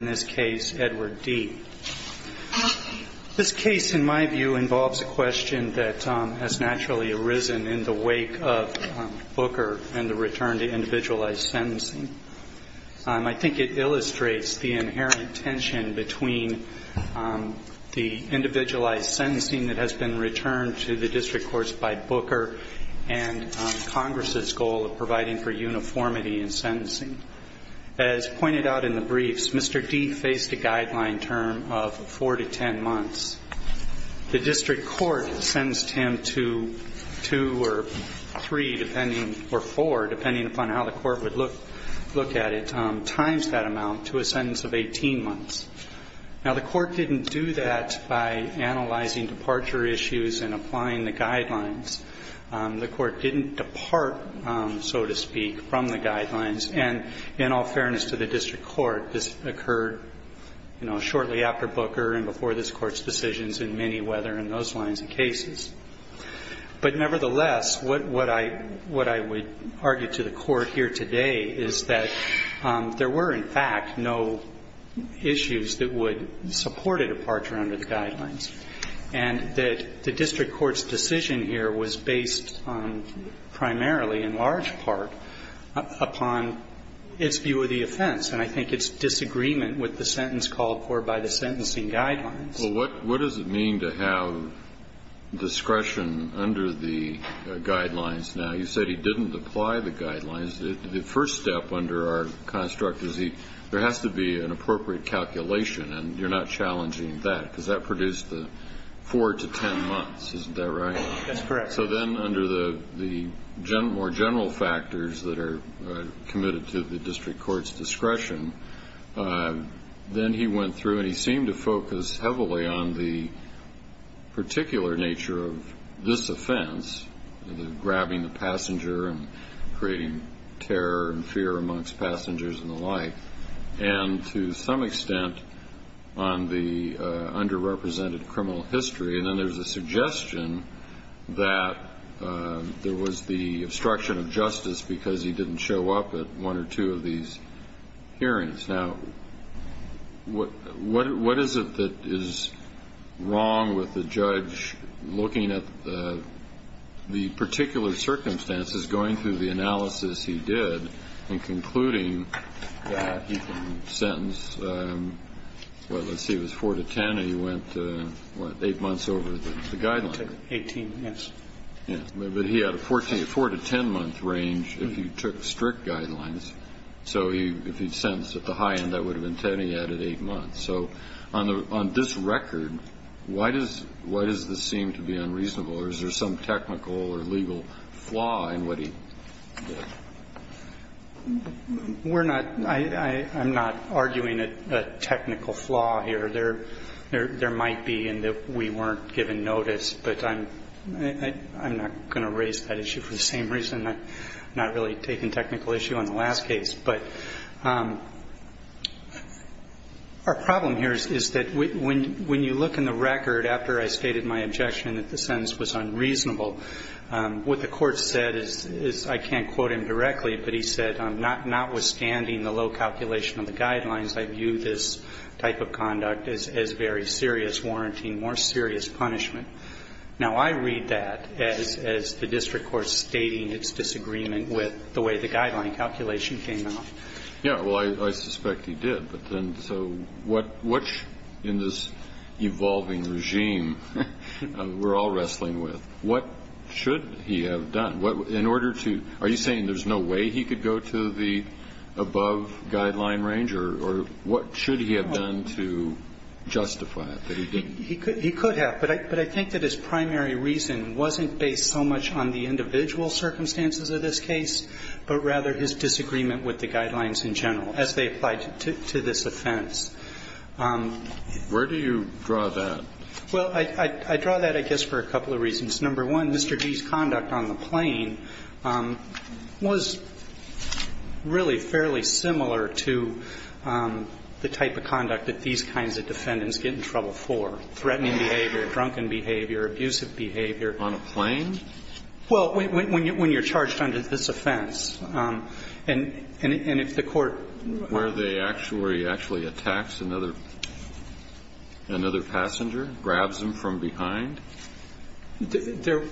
This case, in my view, involves a question that has naturally arisen in the wake of Booker and the return to individualized sentencing. I think it illustrates the inherent tension between the individualized sentencing that has been returned to the district courts by Booker and Congress' goal of providing for uniformity in sentencing. As pointed out in the briefs, Mr. Dee faced a guideline term of 4 to 10 months. The district court sentenced him to 2 or 3, depending, or 4, depending upon how the court would look at it, times that amount to a sentence of 18 months. Now, the court didn't do that by analyzing departure issues and applying the guidelines. The court didn't depart, so to speak, from the guidelines. And in all fairness to the district court, this occurred, you know, shortly after Booker and before this Court's decisions in many whether in those lines of cases. But nevertheless, what I would argue to the Court here today is that there were, in fact, no issues that would support a departure under the guidelines. And that the district court's decision here was based on primarily, in large part, upon its view of the offense. And I think its disagreement with the sentence called for by the sentencing guidelines. Well, what does it mean to have discretion under the guidelines now? You said he didn't apply the guidelines. The first step under our construct is there has to be an appropriate calculation, and you're not challenging that, because that produced the 4 to 10 months. Isn't that right? That's correct. So then under the more general factors that are committed to the district court's discretion, then he went through and he seemed to focus heavily on the particular nature of this offense, the grabbing the passenger and creating terror and fear amongst passengers and the like, and to some extent on the underrepresented criminal history. And then there's a suggestion that there was the obstruction of justice because he didn't show up at one or two of these hearings. Now, what is it that is wrong with the judge looking at the particular circumstances, going through the analysis he did, and concluding that he can sentence, well, let's see, it was 4 to 10 and he went, what, 8 months over the guidelines? 18, yes. Yes, but he had a 4 to 10 month range if he took strict guidelines. So if he sentenced at the high end, that would have been 10, he added 8 months. So on this record, why does this seem to be unreasonable? Or is there some technical or legal flaw in what he did? We're not, I'm not arguing a technical flaw here. There might be in that we weren't given notice, but I'm not going to raise that issue for the same reason. I'm not really taking technical issue on the last case. But our problem here is that when you look in the record after I stated my objection that the sentence was unreasonable, what the court said is, I can't quote him directly, but he said, notwithstanding the low calculation of the guidelines, I view this type of conduct as very serious, warranting more serious punishment. Now, I read that as the district court stating its disagreement with the way the guideline calculation came out. Yeah, well, I suspect he did. But then, so what's in this evolving regime we're all wrestling with? What should he have done? In order to, are you saying there's no way he could go to the above guideline range? Or what should he have done to justify it? He could have. But I think that his primary reason wasn't based so much on the individual circumstances of this case, but rather his disagreement with the guidelines in general as they applied to this offense. Where do you draw that? Well, I draw that, I guess, for a couple of reasons. Number one, Mr. Gee's conduct on the plane was really fairly similar to the type of conduct that these kinds of defendants get in trouble for. Threatening behavior, drunken behavior, abusive behavior. On a plane? Well, when you're charged under this offense. And if the court. Where they actually, where he actually attacks another passenger, grabs him from behind? There,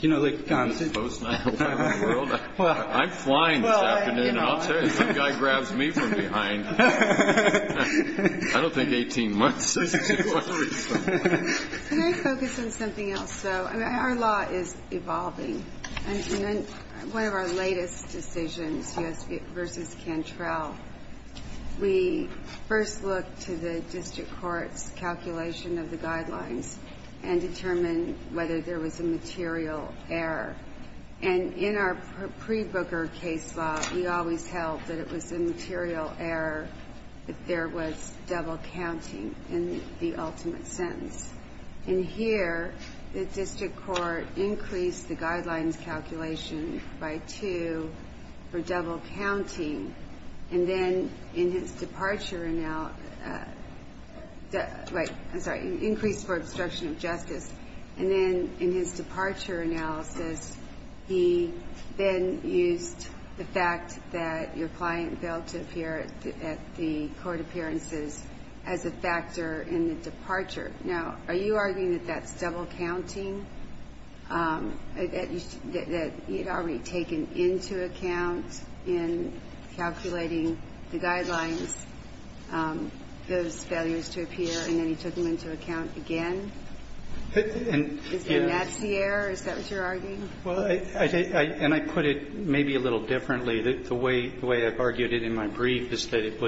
you know, the. In this post-Nile world? I'm flying this afternoon and I'll tell you, some guy grabs me from behind. I don't think 18 months is a good one. Can I focus on something else, though? I mean, our law is evolving. And one of our latest decisions, U.S. v. Cantrell, we first looked to the district court's calculation of the guidelines and determined whether there was a material error. And in our pre-Booker case law, we always held that it was a material error if there was double counting in the ultimate sentence. And here, the district court increased the guidelines calculation by two for double counting. And then in his departure, I'm sorry, increased for obstruction of justice. And then in his departure analysis, he then used the fact that your client failed to appear at the court appearances as a factor in the departure. Now, are you arguing that that's double counting? That he had already taken into account in calculating the guidelines those failures to appear, and then he took them into account again? Is that what you're arguing? Well, and I put it maybe a little differently. The way I've argued it in my brief is that it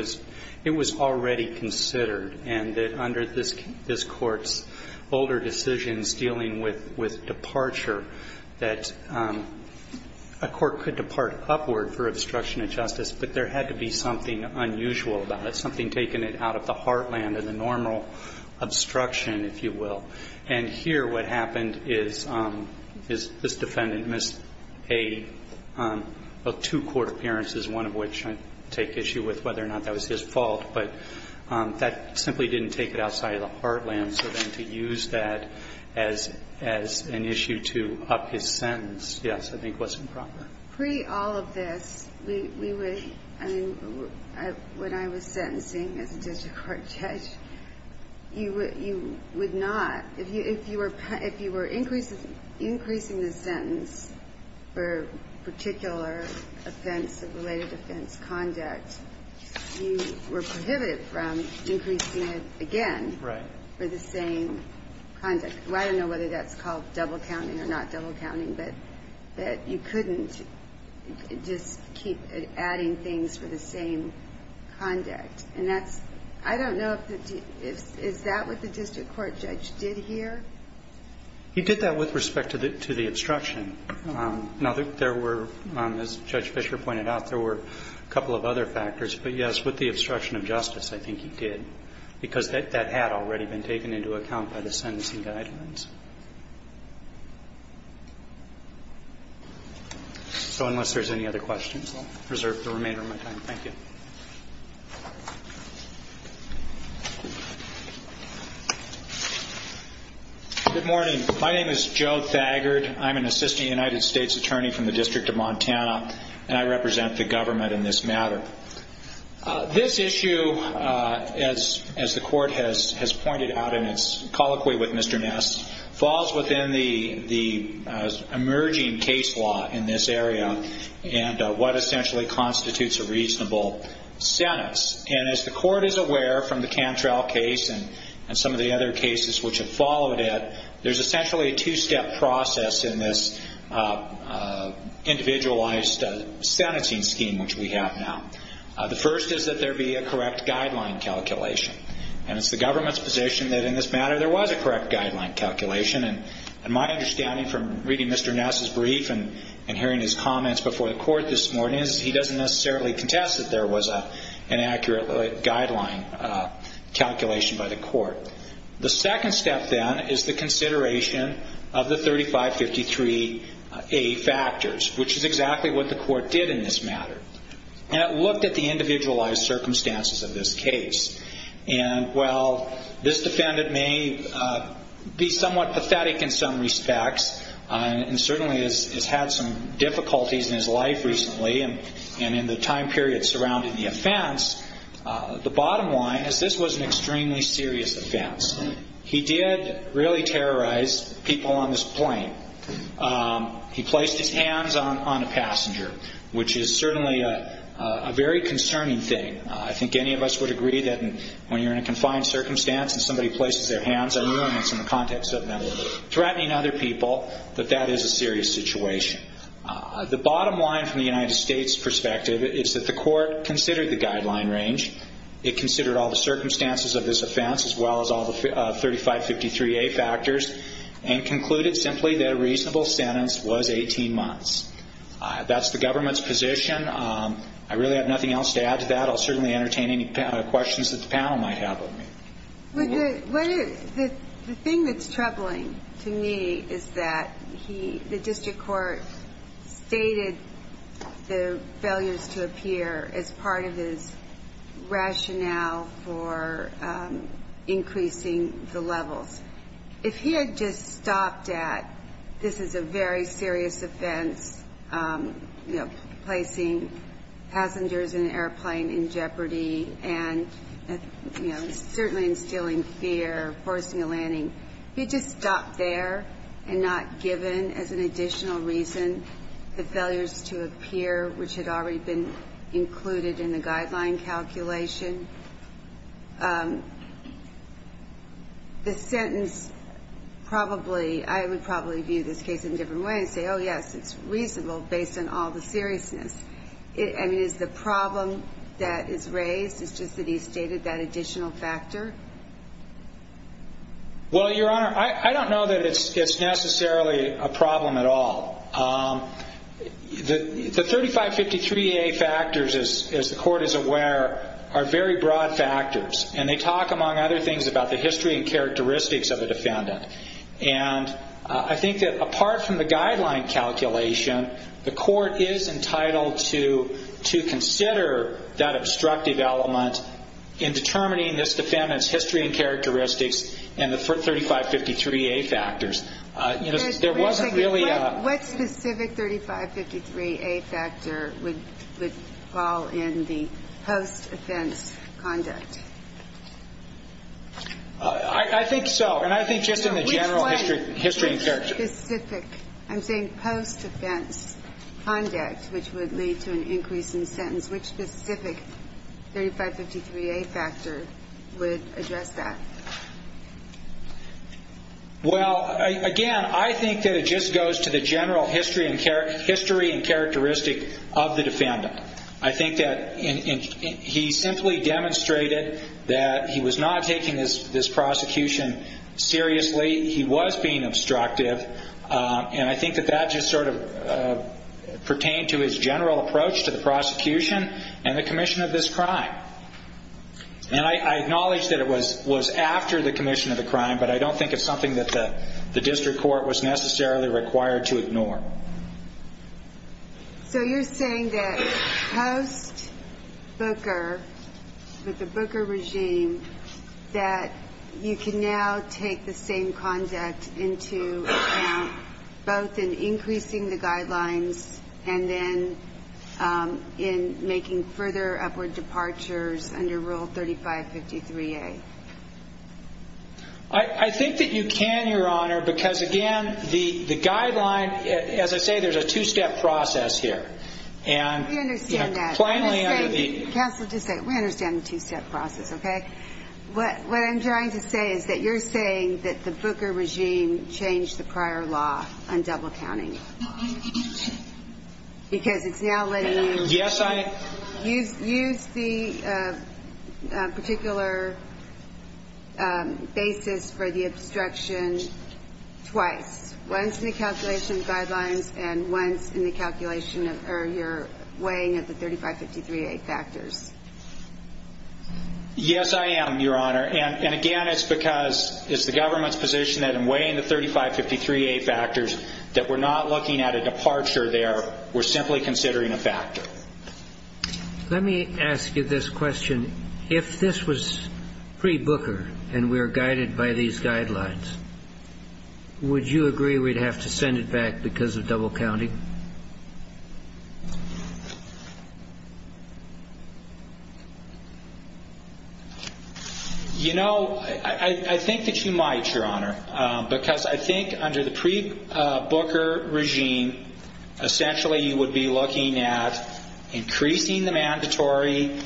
was already considered, and that under this Court's older decisions dealing with departure, that a court could depart upward for obstruction of justice, but there had to be something unusual about it, something taking it out of the heartland of the normal obstruction, if you will. And here what happened is this defendant missed two court appearances, one of which I take issue with whether or not that was his fault. But that simply didn't take it outside of the heartland. So then to use that as an issue to up his sentence, yes, I think was improper. Pre all of this, we would, I mean, when I was sentencing as a district court judge, you would not, if you were increasing the sentence for particular offense, related offense conduct, you were prohibited from increasing it again for the same conduct. Well, I don't know whether that's called double counting or not double counting, but that you couldn't just keep adding things for the same conduct. And that's, I don't know if, is that what the district court judge did here? He did that with respect to the obstruction. Now, there were, as Judge Fisher pointed out, there were a couple of other factors. But, yes, with the obstruction of justice, I think he did, because that had already been taken into account by the sentencing guidelines. So unless there's any other questions, I'll preserve the remainder of my time. Thank you. Good morning. My name is Joe Thagard. I'm an assistant United States attorney from the District of Montana, and I represent the government in this matter. This issue, as the court has pointed out in its colloquy with Mr. Ness, falls within the emerging case law in this area and what essentially constitutes a reasonable sentence. And as the court is aware from the Cantrell case and some of the other cases which have followed it, there's essentially a two-step process in this individualized sentencing scheme, which we have now. The first is that there be a correct guideline calculation. And it's the government's position that in this matter, there was a correct guideline calculation. And my understanding from reading Mr. Ness' brief and hearing his comments before the court this morning is he doesn't necessarily contest that there was an accurate guideline calculation by the court. The second step, then, is the consideration of the 3553A factors, which is exactly what the court did in this matter. And it looked at the individualized circumstances of this case. And while this defendant may be somewhat pathetic in some respects and certainly has had some difficulties in his life recently and in the time period surrounding the offense, the bottom line is this was an extremely serious offense. He did really terrorize people on this plane. He placed his hands on a passenger, which is certainly a very concerning thing. I think any of us would agree that when you're in a confined circumstance and somebody places their hands on you, and it's in the context of them threatening other people, that that is a serious situation. The bottom line from the United States' perspective is that the court considered the guideline range. It considered all the circumstances of this offense as well as all the 3553A factors and concluded simply that a reasonable sentence was 18 months. That's the government's position. I really have nothing else to add to that. I'll certainly entertain any questions that the panel might have of me. The thing that's troubling to me is that the district court stated the failures to appear as part of his rationale for increasing the levels. If he had just stopped at this is a very serious offense, you know, placing passengers in an airplane in jeopardy and, you know, certainly instilling fear, forcing a landing, if he had just stopped there and not given as an additional reason the failures to appear, which had already been included in the guideline calculation, the sentence probably, I would probably view this case in a different way and say, oh, yes, it's reasonable based on all the seriousness. I mean, is the problem that is raised is just that he's stated that additional factor? Well, Your Honor, I don't know that it's necessarily a problem at all. The 3553A factors, as the court is aware, are very broad factors, and they talk, among other things, about the history and characteristics of a defendant. And I think that apart from the guideline calculation, the court is entitled to consider that obstructive element in determining this defendant's history and characteristics and the 3553A factors. What specific 3553A factor would fall in the post-offense conduct? I think so. And I think just in the general history and characteristics. Which specific? I'm saying post-offense conduct, which would lead to an increase in sentence. Which specific 3553A factor would address that? Well, again, I think that it just goes to the general history and characteristic of the defendant. I think that he simply demonstrated that he was not taking this prosecution seriously. He was being obstructive. And I think that that just sort of pertained to his general approach to the prosecution and the commission of this crime. And I acknowledge that it was after the commission of the crime, but I don't think it's something that the district court was necessarily required to ignore. So you're saying that post-Booker, with the Booker regime, that you can now take the same conduct into account both in increasing the guidelines and then in making further upward departures under Rule 3553A? I think that you can, Your Honor, because, again, the guideline As I say, there's a two-step process here. We understand that. Plainly under the Counsel, just a second. We understand the two-step process, okay? What I'm trying to say is that you're saying that the Booker regime changed the prior law on double counting. Because it's now letting you use the particular basis for the obstruction twice. Once in the calculation of guidelines and once in the calculation of your weighing of the 3553A factors. Yes, I am, Your Honor. And, again, it's because it's the government's position that in weighing the 3553A factors, that we're not looking at a departure there. We're simply considering a factor. Let me ask you this question. If this was pre-Booker and we're guided by these guidelines, would you agree we'd have to send it back because of double counting? You know, I think that you might, Your Honor, because I think under the pre-Booker regime, essentially you would be looking at increasing the mandatory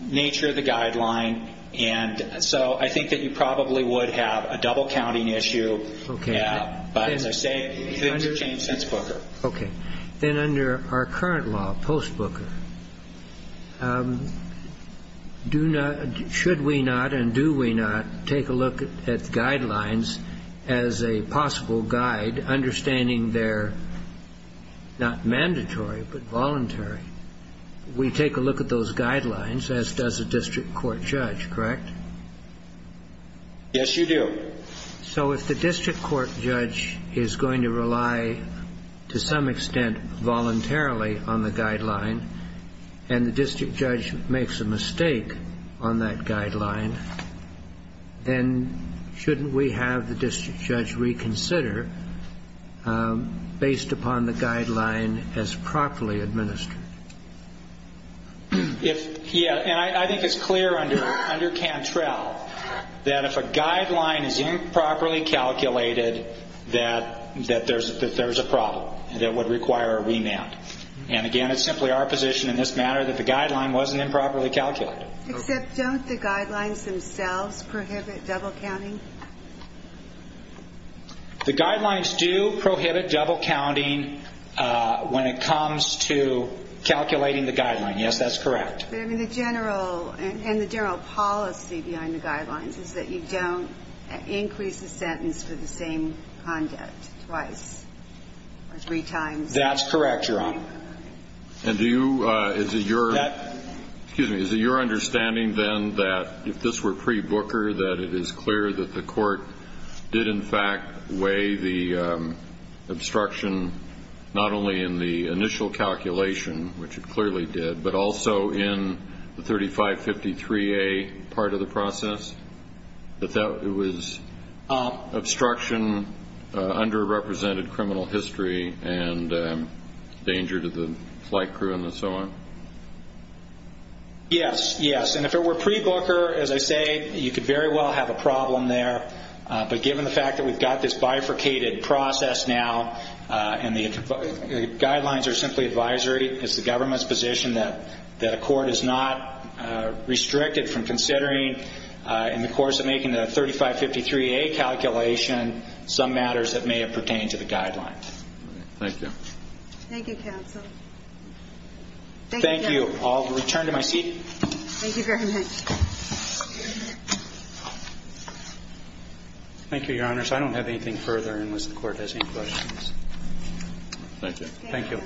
nature of the guideline. And so I think that you probably would have a double counting issue. Okay. But, as I say, things have changed since Booker. Okay. Then under our current law, post-Booker, should we not and do we not take a look at guidelines as a possible guide, understanding they're not mandatory but voluntary? We take a look at those guidelines, as does a district court judge, correct? Yes, you do. So if the district court judge is going to rely to some extent voluntarily on the guideline and the district judge makes a mistake on that guideline, then shouldn't we have the district judge reconsider based upon the guideline as properly administered? Yeah. And I think it's clear under Cantrell that if a guideline is improperly calculated, that there's a problem that would require a remand. And, again, it's simply our position in this matter that the guideline wasn't improperly calculated. Except don't the guidelines themselves prohibit double counting? The guidelines do prohibit double counting when it comes to calculating the guideline. Yes, that's correct. But, I mean, the general policy behind the guidelines is that you don't increase the sentence for the same conduct twice or three times. That's correct, Your Honor. And is it your understanding, then, that if this were pre-Booker, that it is clear that the court did, in fact, weigh the obstruction not only in the initial calculation, which it clearly did, but also in the 3553A part of the process? That it was obstruction, underrepresented criminal history, and danger to the flight crew and so on? Yes, yes. And if it were pre-Booker, as I say, you could very well have a problem there. But given the fact that we've got this bifurcated process now and the guidelines are simply advisory, it's the government's position that a court is not restricted from considering, in the course of making the 3553A calculation, some matters that may have pertained to the guidelines. Thank you. Thank you, counsel. Thank you. Thank you. I'll return to my seat. Thank you very much. Thank you, Your Honors. I don't have anything further unless the Court has any questions. Thank you. Thank you.